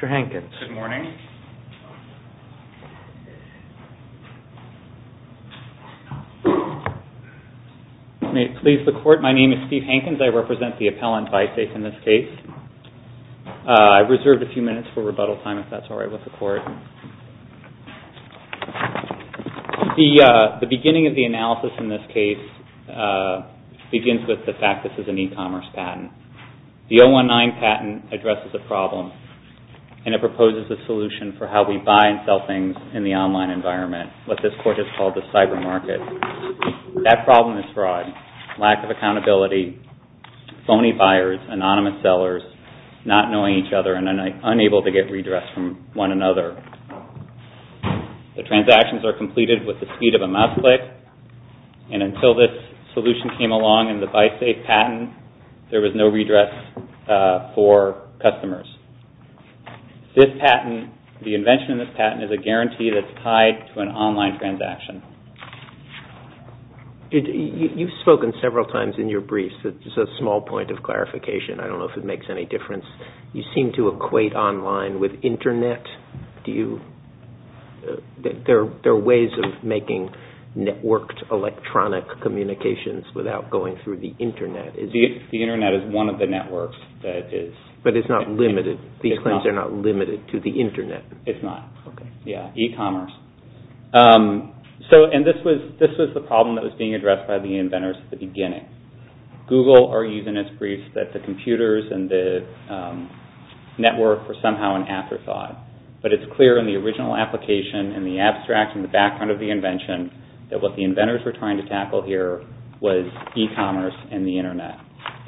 Mr. Hankins. Good morning. May it please the Court, my name is Steve Hankins. I represent the appellant BYSAFE in this case. I've reserved a few minutes for rebuttal time if that's okay. The beginning of the analysis in this case begins with the fact that this is an e-commerce patent. The 019 patent addresses a problem and it proposes a solution for how we buy and sell things in the online environment, what this Court has called the cyber market. That problem is fraud, lack of accountability, phony buyers, anonymous sellers, not knowing each other and unable to get redress from one another. The transactions are completed with the speed of a mouse click and until this solution came along in the BYSAFE patent, there was no redress for customers. This patent, the invention of this patent, is a guarantee that's tied to an online transaction. You've spoken several times in your briefs. Just a small point of clarification. I don't know if it makes any difference. You seem to equate online with internet. There are ways of making networked electronic communications without going through the internet. The internet is one of the networks that is... But it's not limited. These claims are not limited to the internet. It's not. E-commerce. This was the problem that was being addressed by the inventors at the beginning. Google argues in its briefs that the computers and the network were somehow an afterthought. But it's clear in the original application and the abstract and the background of the invention that what the inventors were trying to tackle here was e-commerce and the internet.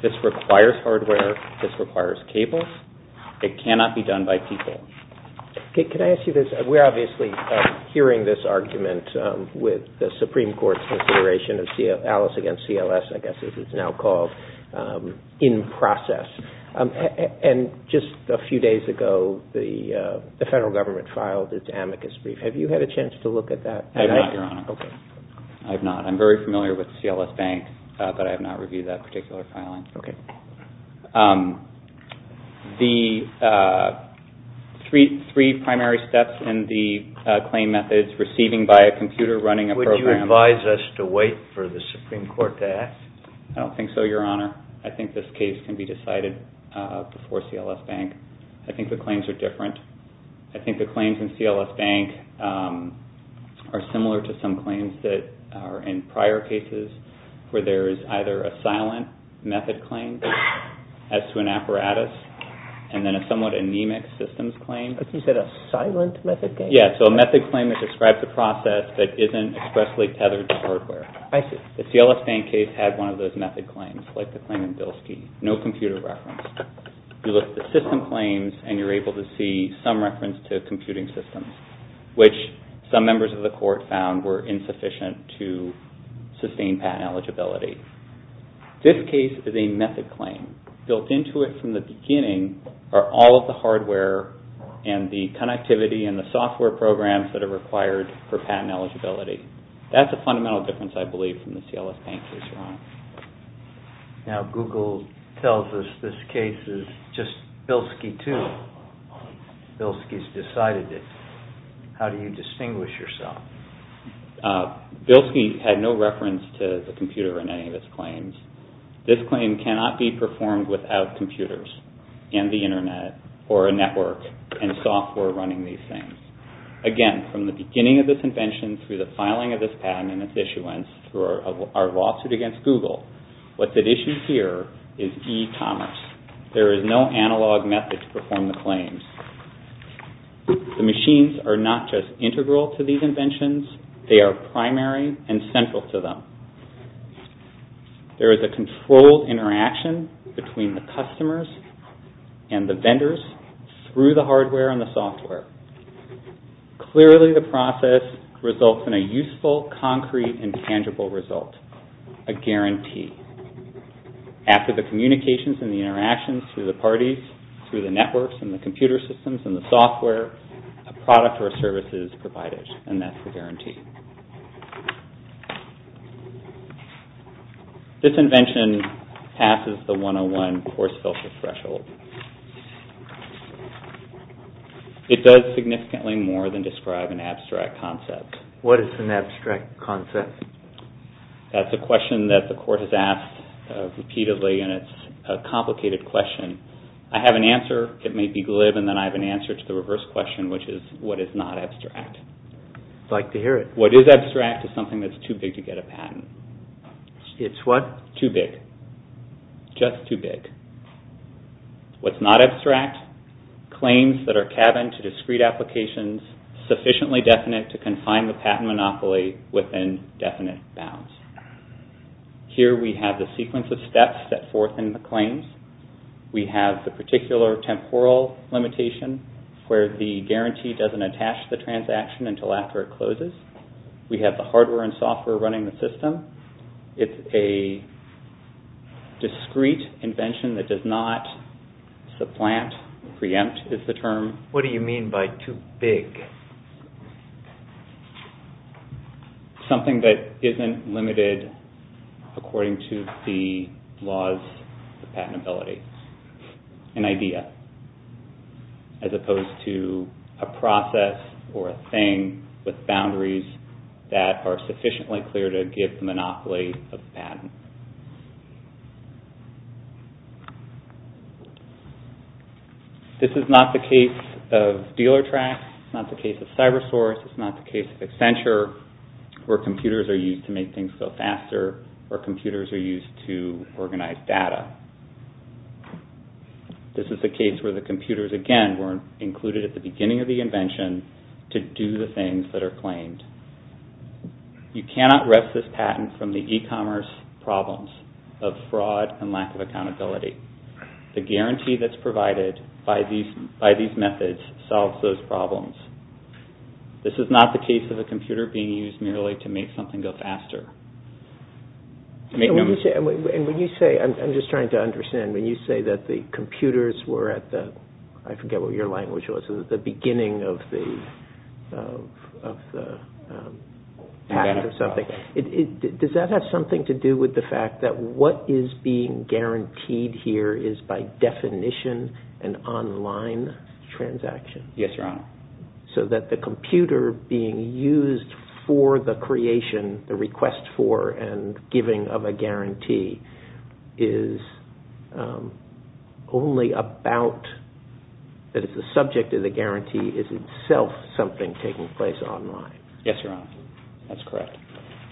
This requires hardware. This requires cables. It cannot be done by people. Can I ask you this? We're obviously hearing this argument with the Supreme Court's consideration of Alice against CLS, I guess as it's now called, in process. And just a few days ago, the federal government filed its amicus brief. Have you had a chance to look at that? I have not, Your Honor. I'm very familiar with CLS Bank, but I have not reviewed that particular filing. The three primary steps in the claim methods, receiving by a computer, running a program. Would you advise us to wait for the Supreme Court to ask? I don't think so, Your Honor. I think this case can be decided before CLS Bank. I think the claims are different. I think the claims in CLS Bank are similar to some claims that are in prior cases where there is either a silent method claim as to an apparatus and then a somewhat anemic systems claim. Like you said, a silent method claim? Yes, so a method claim that describes a process that isn't expressly tethered to hardware. The CLS Bank case had one of those method claims, like the claim in Bilski. No computer reference. You look at the system claims and you're able to see some reference to computing systems, which some members of the court found were insufficient to sustain patent eligibility. This case is a method claim. Built into it from the beginning are all of the hardware and the connectivity and the software programs that are required for patent eligibility. That's a fundamental difference, I believe, from the CLS Bank case, Your Honor. Now, Google tells us this case is just Bilski too. Bilski has decided it. How do you distinguish yourself? Bilski had no reference to the computer in any of its claims. This claim cannot be performed without computers and the internet or a network and software running these things. Again, from the beginning of this invention through the filing of this patent and its issuance through our lawsuit against Google, what's at issue here is e-commerce. There is no analog method to perform the claims. The machines are not just integral to these inventions. They are primary and central to them. There is a controlled interaction between the customers and the vendors through the hardware and the software. Clearly, the process results in a useful, concrete, and tangible result, a guarantee. After the communications and the interactions through the parties, through the networks and the computer systems and the software, a product or a service is made, and that's the guarantee. This invention passes the 101 course filter threshold. It does significantly more than describe an abstract concept. What is an abstract concept? That's a question that the Court has asked repeatedly, and it's a complicated question. I have an answer. It may be glib, and then I have an answer to the reverse question, which is, what is not abstract? What is abstract is something that's too big to get a patent. It's what? Too big. Just too big. What's not abstract? Claims that are cabined to discrete applications, sufficiently definite to confine the patent monopoly within definite bounds. Here we have the sequence of steps set forth in the claims. We have the particular temporal limitation where the guarantee doesn't attach to the transaction until after it closes. We have the hardware and software running the system. It's a discrete invention that does not supplant, preempt is the term. What do you mean by too big? Something that isn't limited according to the laws of patentability. An idea. As opposed to a process or a thing with boundaries that are sufficiently clear to give the monopoly of the patent. This is not the case of dealer tracks. It's not the case of cybersource. It's not the case of Accenture, where computers are used to make things go faster, or computers are used to organize data. This is the case where the computers, again, weren't included at the beginning of the invention to do the things that are claimed. You cannot rest this patent from the e-commerce problems of fraud and lack of accountability. The guarantee that's provided by these methods solves those problems. This is not the case of a computer being used merely to make something go faster. I'm just trying to understand. When you say that the computers were at the beginning of the patent or something, does that have something to do with the fact that what is being guaranteed here is by definition an online transaction? Yes, Your Honor. So that the computer being used for the creation, the request for, and giving of a guarantee is only about, that it's the subject of the guarantee, is itself something taking place online? Yes, Your Honor. That's correct.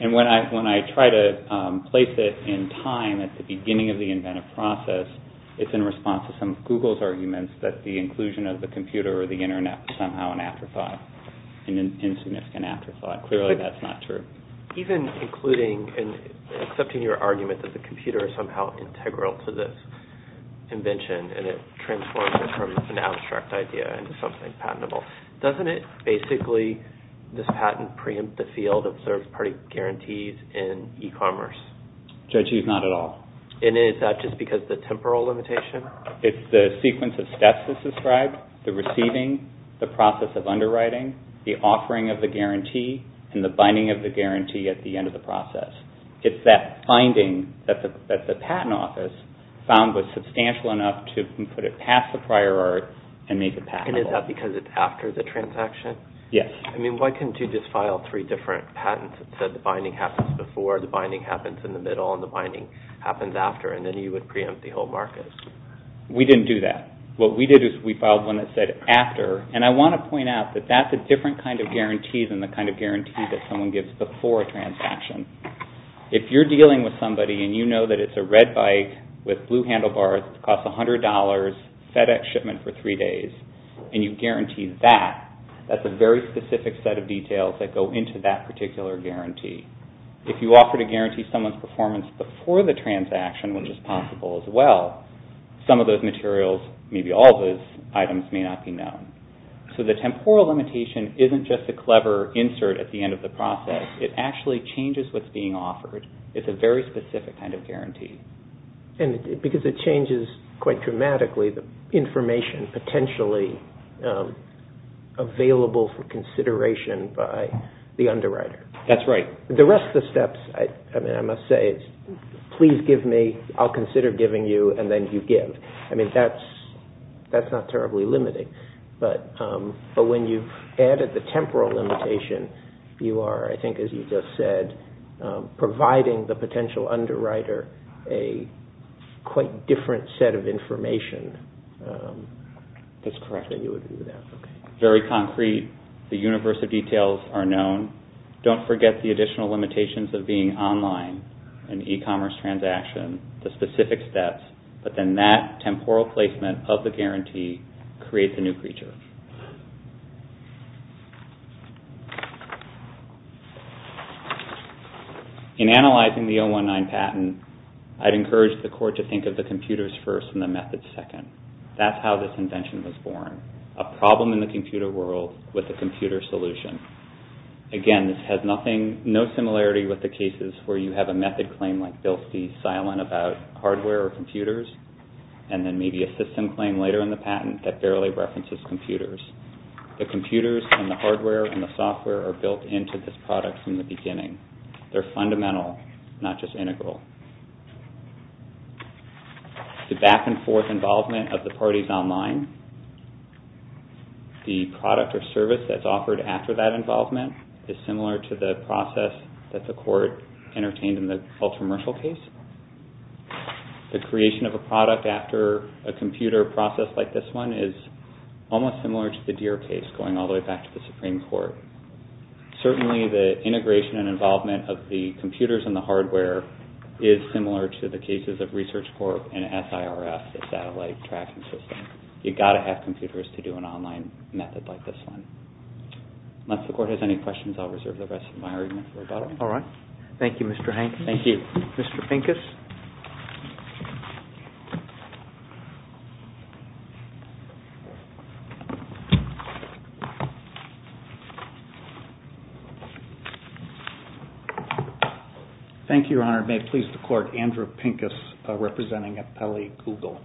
When I try to place it in time at the beginning of the inventive process, it's in response to some of Google's arguments that the inclusion of the computer or the internet is somehow an afterthought, an insignificant afterthought. Clearly, that's not true. Even including and accepting your argument that the computer is somehow integral to this invention and it transforms it from an abstract idea into something patentable, doesn't it basically this patent preempt the field of third-party guarantees in e-commerce? Judge, it's not at all. And is that just because of the temporal limitation? It's the sequence of steps as described, the receiving, the process of underwriting, the offering of the guarantee, and the binding of the guarantee at the end of the process. It's that finding that the patent office found was substantial enough to put it past the prior art and make it patentable. And is that because it's after the transaction? Yes. I mean, why couldn't you just file three different patents that said the binding happens before, the binding happens in the middle, and the binding happens after, and then you would preempt the whole market? We didn't do that. What we did is we filed one that said after, and I want to point out that that's a different kind of guarantee than the kind of guarantee that someone gives before a transaction. If you're dealing with somebody and you know that it's a red bike with blue handlebars that costs $100, FedEx shipment for three days, and you guarantee that, that's a very specific set of details that go into that particular guarantee. If you offer to guarantee someone's performance before the transaction, which is possible as well, some of those materials, maybe all of those items, may not be known. So the temporal limitation isn't just a clever insert at the end of the process. It actually changes what's being offered. It's a very specific kind of guarantee. And because it changes quite dramatically the information potentially available for consideration by the underwriter. That's right. The rest of the steps, I mean, I must say, please give me, I'll consider giving you, and then you give. I mean, that's not terribly limiting. But when you've added the temporal limitation, you are, I think as you just said, providing the potential underwriter a quite different set of information. That's correct. Then you would do that. Very concrete. The universe of details are known. Don't forget the additional limitations of being online, an e-commerce transaction, the specific steps. But then that temporal placement of the guarantee creates a new creature. In analyzing the 019 patent, I'd encourage the court to think of the computers first and the methods second. That's how this invention was born. A problem in the computer world with a computer solution. Again, this has nothing, no similarity with the cases where you have a method claim like they'll be silent about hardware or computers, and then maybe a system claim later in the patent that barely references computers. The computers and the hardware and the software are built into this product from the beginning. They're fundamental, not just integral. The back and forth involvement of the parties online, the product or service that's offered after that involvement is similar to the process that the court entertained in the Ultramershal case. The creation of a product after a computer process like this one is almost similar to the Deere case, going all the way back to the Supreme Court. Certainly, the integration and involvement of the computers and the hardware is similar to the cases of Research Corp and SIRF, the satellite tracking system. You've got to have computers to do an online method like this one. Unless the court has any questions, I'll reserve the rest of my argument for about a minute. All right. Thank you, Mr. Hank. Thank you. Mr. Pincus. Thank you, Your Honor. And may it please the court, Andrew Pincus representing Appelli Google.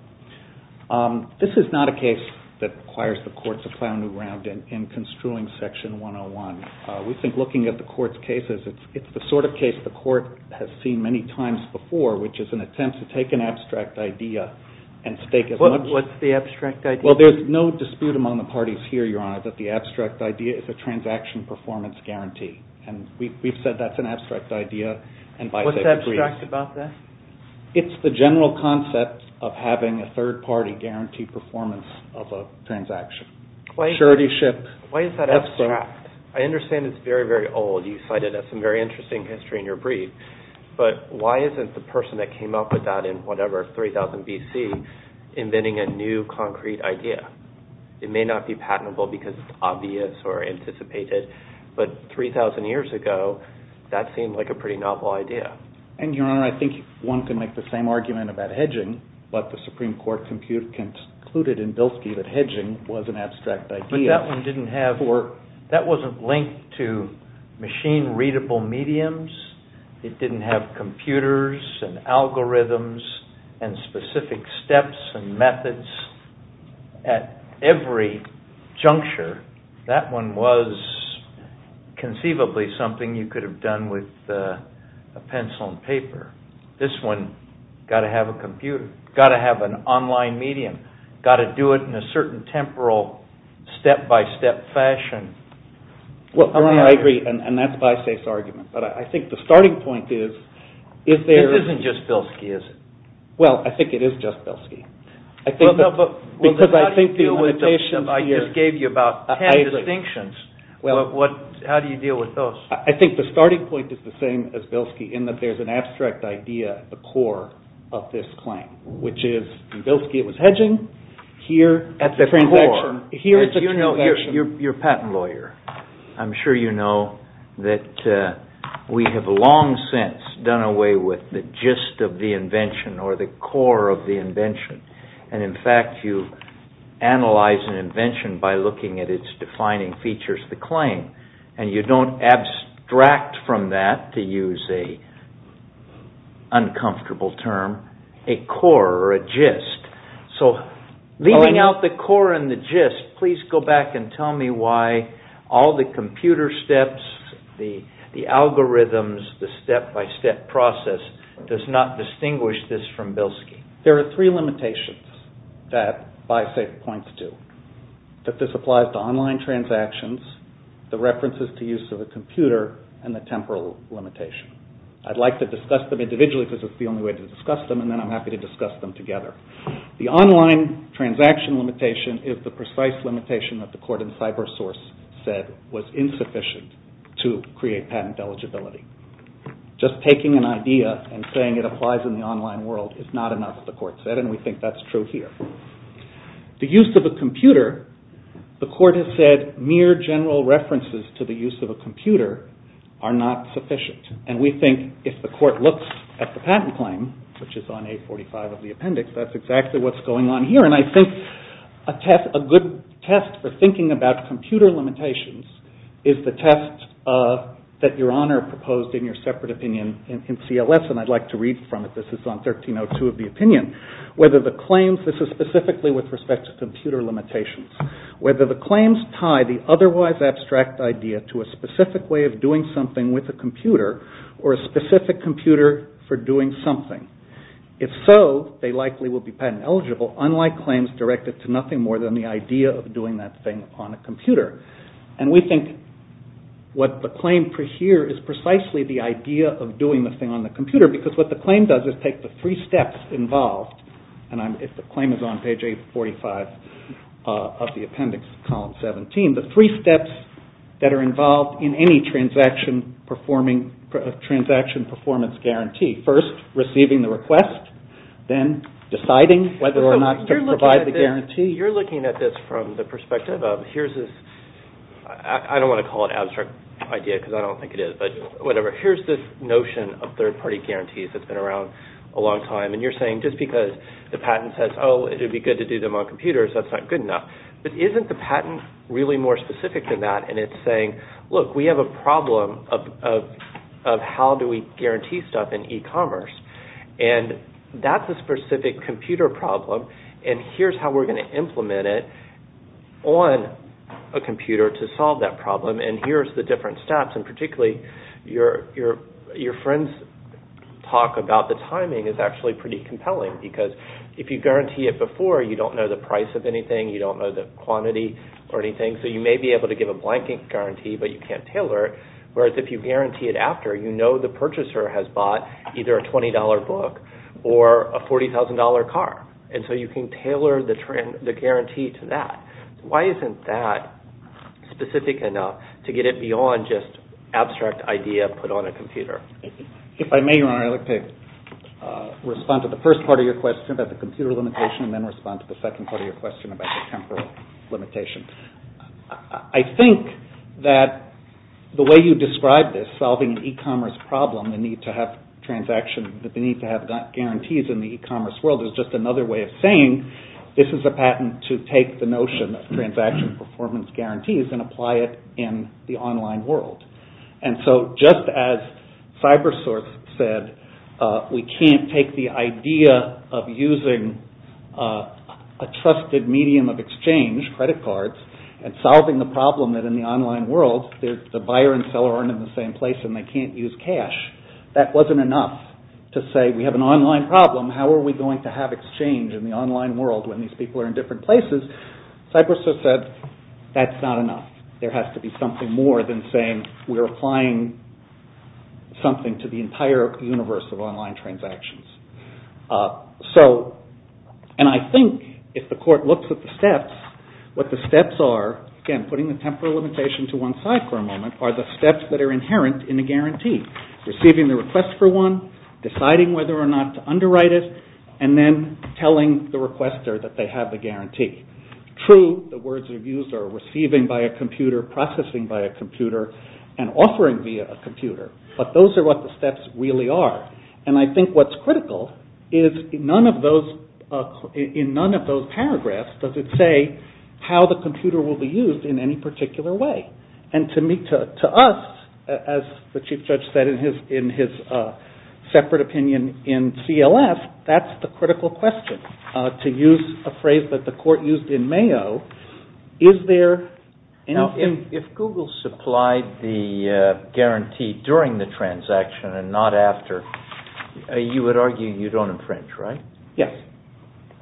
This is not a case that requires the court to plow new ground in construing Section 101. We think looking at the court's cases, it's the sort of case the court has seen many times before, which is an attempt to take an abstract idea and stake as much... What's the abstract idea? Well, there's no dispute among the parties here, Your Honor, that the abstract idea is a transaction performance guarantee. And we've said that's an abstract idea. What's abstract about that? It's the general concept of having a third party guarantee performance of a transaction. Why is that abstract? I understand it's very, very old. You cite it as some very interesting history in your brief. But why isn't the person that came up with that in whatever, 3000 BC, inventing a new concrete idea? It may not be patentable because it's obvious or anticipated. But 3000 years ago, that seemed like a pretty novel idea. And, Your Honor, I think one can make the same argument about hedging, but the Supreme Court concluded in Bilski that hedging was an abstract idea. But that one didn't have... That wasn't linked to machine-readable mediums. It didn't have computers and algorithms and specific steps and methods at every juncture. That one was conceivably something you could have done with a pencil and paper. This one, got to have a computer. Got to have an online medium. Got to do it in a certain temporal, step-by-step fashion. Well, Your Honor, I agree. And that's Bysafe's argument. But I think the starting point is, if there... This isn't just Bilski, is it? Well, I think it is just Bilski. Because I think the limitations here... I just gave you about ten distinctions. How do you deal with those? I think the starting point is the same as Bilski, in that there's an abstract idea at the core of this claim. Which is, in Bilski, it was hedging. Here, at the core... At the transaction. As you know, you're a patent lawyer. I'm sure you know that we have long since done away with the gist of the invention, or the core of the invention. And in fact, you analyze an invention by looking at its defining features, the claim. And you don't abstract from that, to use an uncomfortable term, a core or a gist. So, leaving out the core and the gist, please go back and tell me why all the computer steps, the algorithms, the step-by-step process, does not distinguish this from Bilski. There are three limitations that Bysafe points to. That this applies to online transactions, the references to use of a computer, and the temporal limitation. I'd like to discuss them individually because it's the only way to discuss them, and then I'm happy to discuss them together. The online transaction limitation is the precise limitation that the court in CyberSource said was insufficient to create patent eligibility. Just taking an idea and saying it applies in the online world is not enough, the court said, and we think that's true here. The use of a computer, the court has said mere general references to the use of a computer are not sufficient. And we think if the court looks at the patent claim, which is on 845 of the appendix, that's exactly what's going on here. And I think a good test for thinking about computer limitations is the test that Your Honor proposed in your separate opinion in CLS, and I'd like to read from it. This is on 1302 of the opinion. This is specifically with respect to computer limitations. Whether the claims tie the otherwise abstract idea to a specific way of doing something with a computer or a specific computer for doing something. If so, they likely will be patent eligible, unlike claims directed to nothing more than the idea of doing that thing on a computer. And we think what the claim here is precisely the idea of doing the thing on the computer because what the claim does is take the three steps involved, and if the claim is on page 845 of the appendix, column 17, the three steps that are involved in any transaction performance guarantee. First, receiving the request, then deciding whether or not to provide the guarantee. You're looking at this from the perspective of here's this, I don't want to call it an abstract idea because I don't think it is, but whatever. Here's this notion of third party guarantees that's been around a long time, and you're saying just because the patent says, oh, it would be good to do them on computers, that's not good enough. But isn't the patent really more specific than that, and it's saying, look, we have a problem of how do we guarantee stuff in e-commerce, and that's a specific computer problem, and here's how we're going to implement it on a computer to solve that problem, and here's the different steps, and particularly your friend's talk about the timing is actually pretty compelling because if you guarantee it before, you don't know the price of anything, you don't know the quantity or anything, so you may be able to give a blank guarantee, but you can't tailor it, whereas if you guarantee it after, you know the purchaser has bought either a $20 book or a $40,000 car, and so you can tailor the guarantee to that. Why isn't that specific enough to get it beyond just abstract idea put on a computer? If I may, Your Honor, I'd like to respond to the first part of your question about the computer limitation and then respond to the second part of your question about the temporal limitation. I think that the way you describe this, solving an e-commerce problem, the need to have guarantees in the e-commerce world, is just another way of saying this is a patent to take the notion of transaction performance guarantees and apply it in the online world, and so just as CyberSource said, we can't take the idea of using a trusted medium of exchange, credit cards, and solving the problem that in the online world, the buyer and seller aren't in the same place and they can't use cash. That wasn't enough to say we have an online problem, how are we going to have exchange in the online world when these people are in different places? CyberSource said that's not enough. There has to be something more than saying we're applying something to the entire universe of online transactions. So, and I think if the court looks at the steps, what the steps are, again, putting the temporal limitation to one side for a moment, are the steps that are inherent in a guarantee. Receiving the request for one, deciding whether or not to underwrite it, and then telling the requester that they have the guarantee. True, the words that are used are receiving by a computer, processing by a computer, and offering via a computer, but those are what the steps really are. And I think what's critical is in none of those paragraphs does it say how the computer will be used in any particular way. And to us, as the Chief Judge said in his separate opinion in CLF, that's the critical question. To use a phrase that the court used in Mayo, is there anything... Now, if Google supplied the guarantee during the transaction and not after, you would argue you don't infringe, right? Yes.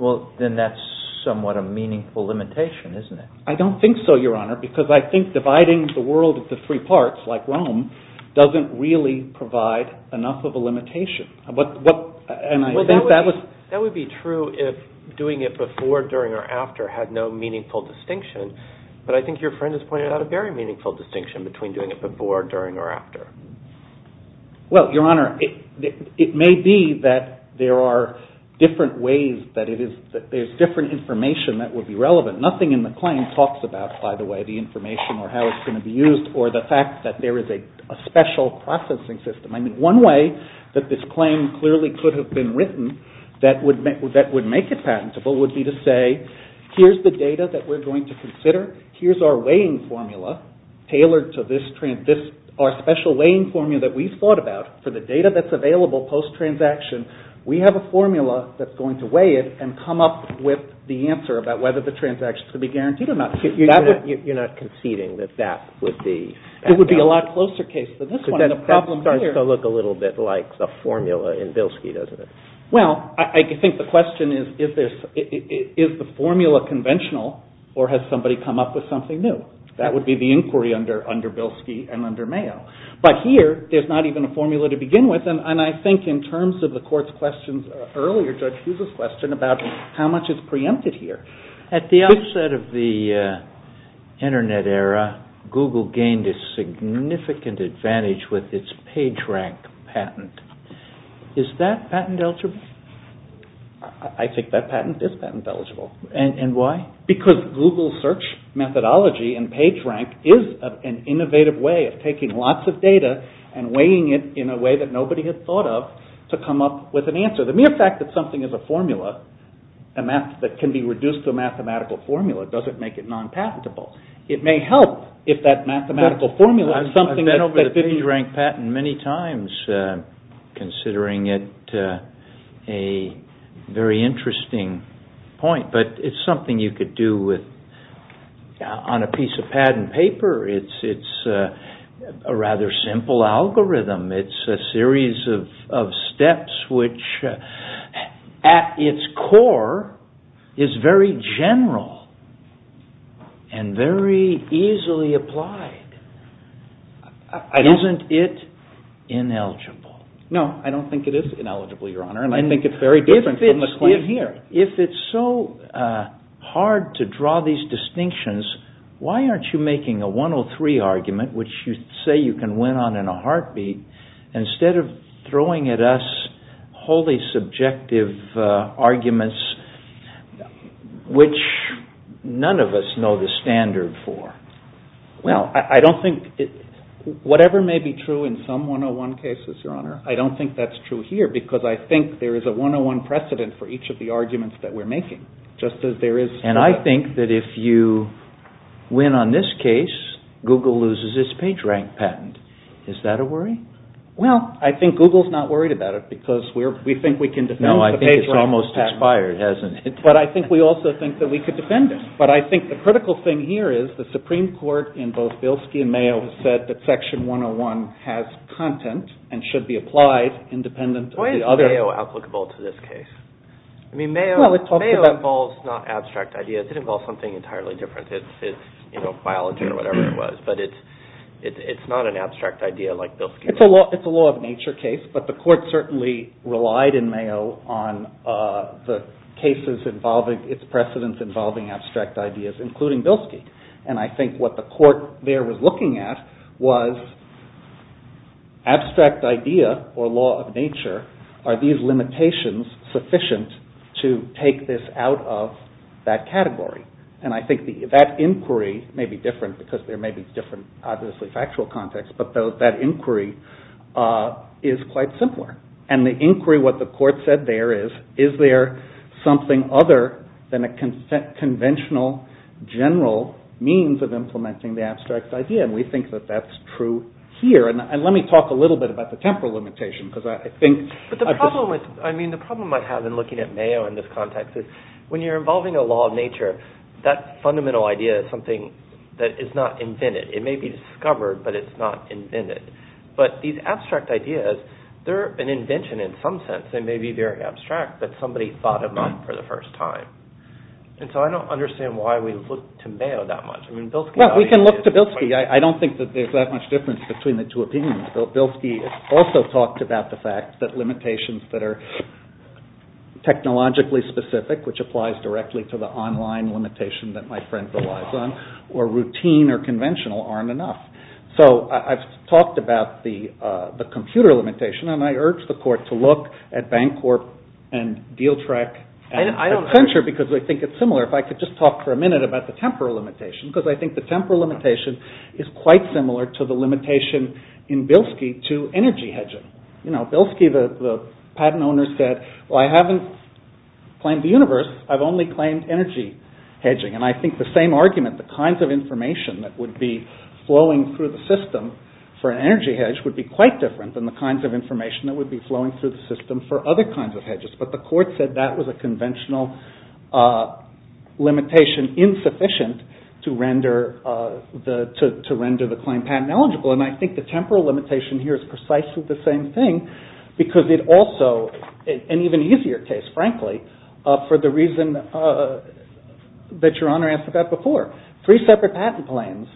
Well, then that's somewhat a meaningful limitation, isn't it? I don't think so, Your Honor, because I think dividing the world into three parts, like Rome, doesn't really provide enough of a limitation. And I think that was... That would be true if doing it before, during, or after had no meaningful distinction, but I think your friend has pointed out a very meaningful distinction between doing it before, during, or after. Well, Your Honor, it may be that there are different ways, that there's different information that would be relevant. Nothing in the claim talks about, by the way, the information or how it's going to be used or the fact that there is a special processing system. I mean, one way that this claim clearly could have been written that would make it patentable would be to say, here's the data that we're going to consider, here's our weighing formula tailored to our special weighing formula that we've thought about for the data that's available post-transaction. We have a formula that's going to weigh it and come up with the answer about whether the transaction could be guaranteed or not. You're not conceding that that would be patentable? It would be a lot closer case than this one. That starts to look a little bit like the formula in Bilski, doesn't it? Well, I think the question is, is the formula conventional or has somebody come up with something new? That would be the inquiry under Bilski and under Mayo. But here, there's not even a formula to begin with, and I think in terms of the court's questions earlier, Judge Hughes' question about how much is preempted here. At the outset of the Internet era, Google gained a significant advantage with its PageRank patent. Is that patent eligible? I think that patent is patent eligible. And why? Because Google search methodology and PageRank is an innovative way of taking lots of data and weighing it in a way that nobody had thought of to come up with an answer. The mere fact that something is a formula that can be reduced to a mathematical formula doesn't make it non-patentable. It may help if that mathematical formula is something that... I've been over the PageRank patent many times, considering it a very interesting point, but it's something you could do on a piece of patent paper. It's a rather simple algorithm. It's a series of steps which, at its core, is very general and very easily applied. Isn't it ineligible? No, I don't think it is ineligible, Your Honor, and I think it's very different from the claim here. If it's so hard to draw these distinctions, why aren't you making a 103 argument, which you say you can win on in a heartbeat, instead of throwing at us wholly subjective arguments, which none of us know the standard for? Well, I don't think... Whatever may be true in some 101 cases, Your Honor, I don't think that's true here because I think there is a 101 precedent for each of the arguments that we're making, just as there is... And I think that if you win on this case, Google loses its PageRank patent. Is that a worry? Well, I think Google's not worried about it because we think we can defend the PageRank patent. No, I think it's almost expired, hasn't it? But I think we also think that we could defend it. But I think the critical thing here is the Supreme Court in both Bilski and Mayo has said that Section 101 has content and should be applied independent of the other... Why is Mayo applicable to this case? I mean, Mayo involves not abstract ideas. It involves something entirely different. It's biology or whatever it was, but it's not an abstract idea like Bilski. It's a law-of-nature case, but the Court certainly relied in Mayo on its precedents involving abstract ideas, including Bilski. And I think what the Court there was looking at was abstract idea or law of nature. Are these limitations sufficient to take this out of that category? And I think that inquiry may be different because there may be different, obviously, factual context, but that inquiry is quite simpler. And the inquiry, what the Court said there is, is there something other than a conventional, general means of implementing the abstract idea? And we think that that's true here. And let me talk a little bit about the temporal limitation because I think... But the problem with, I mean, the problem I have in looking at Mayo in this context is when you're involving a law of nature, that fundamental idea is something that is not invented. It may be discovered, but it's not invented. But these abstract ideas, they're an invention in some sense. They may be very abstract, but somebody thought of them for the first time. And so I don't understand why we look to Mayo that much. I mean, Bilski... Well, we can look to Bilski. I don't think that there's that much difference between the two opinions. Bilski also talked about the fact that limitations that are technologically specific, which applies directly to the online limitation that my friend relies on, or routine or conventional aren't enough. So I've talked about the computer limitation, and I urge the Court to look at Bancorp and DealTrek and Accenture because I think it's similar. If I could just talk for a minute about the temporal limitation, because I think the temporal limitation is quite similar to the limitation in Bilski to energy hedging. You know, Bilski, the patent owner, said, well, I haven't claimed the universe, I've only claimed energy hedging. And I think the same argument, the kinds of information that would be flowing through the system for an energy hedge would be quite different than the kinds of information that would be flowing through the system for other kinds of hedges. But the Court said that was a conventional limitation, insufficient to render the claim patent eligible. And I think the temporal limitation here is precisely the same thing, because it also, an even easier case, frankly, for the reason that Your Honor asked about before. Three separate patent claims,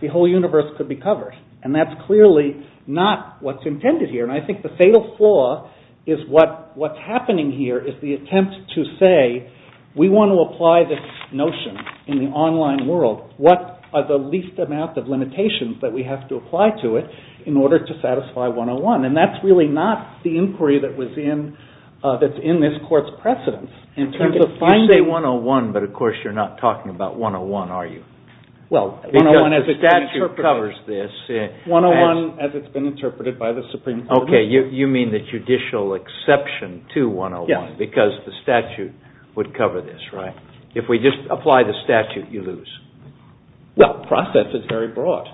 the whole universe could be covered. And that's clearly not what's intended here. And I think the fatal flaw is what's happening here is the attempt to say, we want to apply this notion in the online world. What are the least amount of limitations that we have to apply to it in order to satisfy 101? And that's really not the inquiry that's in this Court's precedence. In terms of finding... You say 101, but of course you're not talking about 101, are you? Well, 101 as it's been interpreted... The statute covers this. 101 as it's been interpreted by the Supreme Court. Okay, you mean the judicial exception to 101, because the statute would cover this, right? If we just apply the statute, you lose. Well, the process is very broad.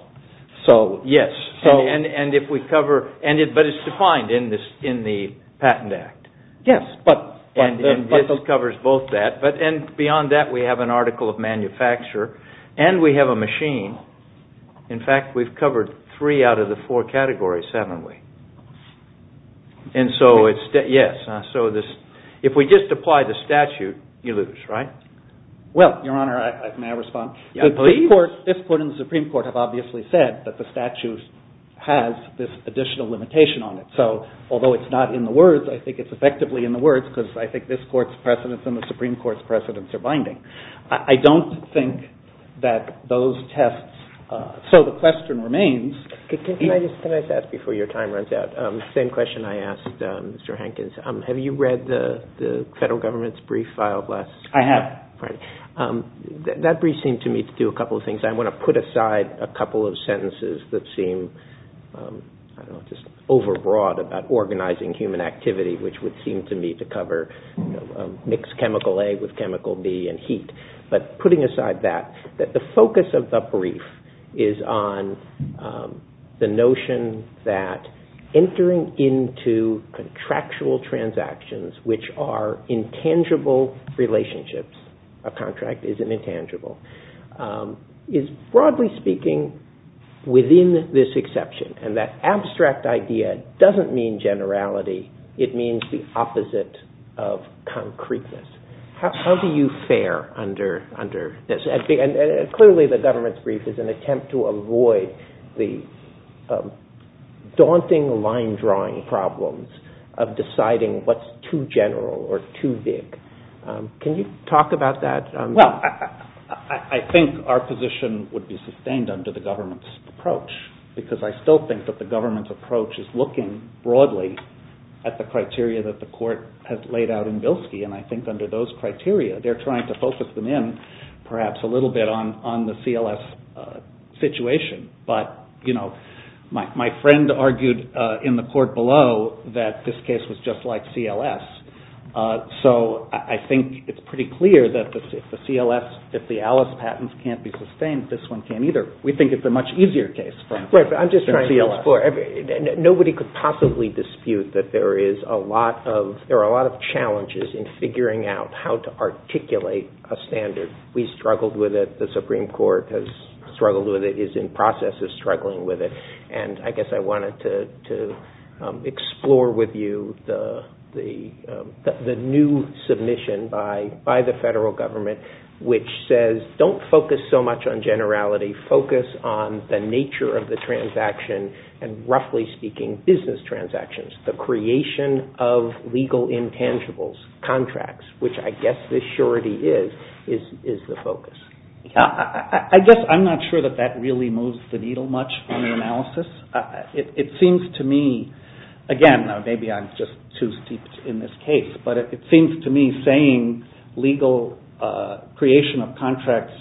Yes, and if we cover... But it's defined in the Patent Act. Yes, but... And it covers both that. And beyond that, we have an article of manufacture, and we have a machine. In fact, we've covered three out of the four categories, haven't we? And so it's... Yes, so if we just apply the statute, you lose, right? Well, Your Honor, may I respond? This Court and the Supreme Court have obviously said that the statute has this additional limitation on it. So although it's not in the words, I think it's effectively in the words, because I think this Court's precedence and the Supreme Court's precedence are binding. I don't think that those tests... So the question remains... Can I just ask, before your time runs out, the same question I asked Mr. Hankins. Have you read the federal government's brief filed last... I have. That brief seemed to me to do a couple of things. I want to put aside a couple of sentences that seem, I don't know, just overbroad about organizing human activity, which would seem to me to cover mixed chemical A with chemical B and heat. But putting aside that, the focus of the brief is on the notion that entering into contractual transactions, which are intangible relationships, a contract isn't intangible, is broadly speaking within this exception. And that abstract idea doesn't mean generality. It means the opposite of concreteness. How do you fare under this? And clearly the government's brief is an attempt to avoid the daunting line-drawing problems of deciding what's too general or too big. Can you talk about that? Well, I think our position would be sustained under the government's approach, because I still think that the government's approach is looking broadly at the criteria that the court has laid out in Bilski. And I think under those criteria, they're trying to focus them in perhaps a little bit on the CLS situation. But my friend argued in the court below that this case was just like CLS. So I think it's pretty clear that if the ALICE patents can't be sustained, this one can't either. We think it's a much easier case than CLS. Right, but I'm just trying to explore. Nobody could possibly dispute that there are a lot of challenges in figuring out how to articulate a standard. We struggled with it. The Supreme Court has struggled with it, is in process of struggling with it. And I guess I wanted to explore with you the new submission by the federal government, which says don't focus so much on generality, focus on the nature of the transaction, and roughly speaking business transactions, the creation of legal intangibles, contracts, which I guess the surety is the focus. I guess I'm not sure that that really moves the needle much in the analysis. It seems to me, again, maybe I'm just too steeped in this case, but it seems to me saying legal creation of contracts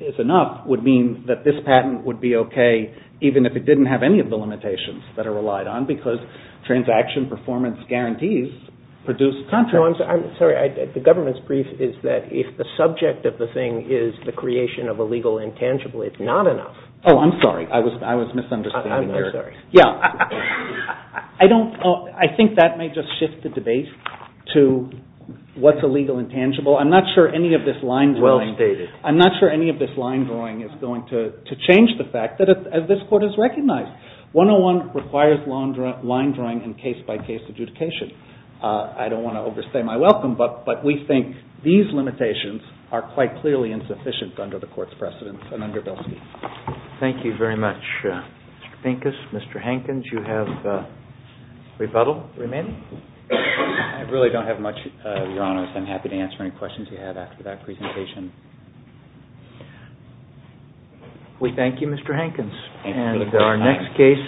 is enough would mean that this patent would be okay, even if it didn't have any of the limitations that are relied on, because transaction performance guarantees produce contracts. No, I'm sorry. The government's brief is that if the subject of the thing is the creation of a legal intangible, it's not enough. Oh, I'm sorry. I was misunderstanding there. I'm very sorry. to what's a legal intangible. I'm not sure any of this line drawing is going to change the fact that this court has recognized. 101 requires line drawing and case-by-case adjudication. I don't want to overstay my welcome, but we think these limitations are quite clearly insufficient under the court's precedence and under Bilski. Thank you very much, Mr. Pincus. Mr. Hankins, you have rebuttal remaining? I really don't have much, Your Honor. I'm happy to answer any questions you have after that presentation. We thank you, Mr. Hankins. Thank you.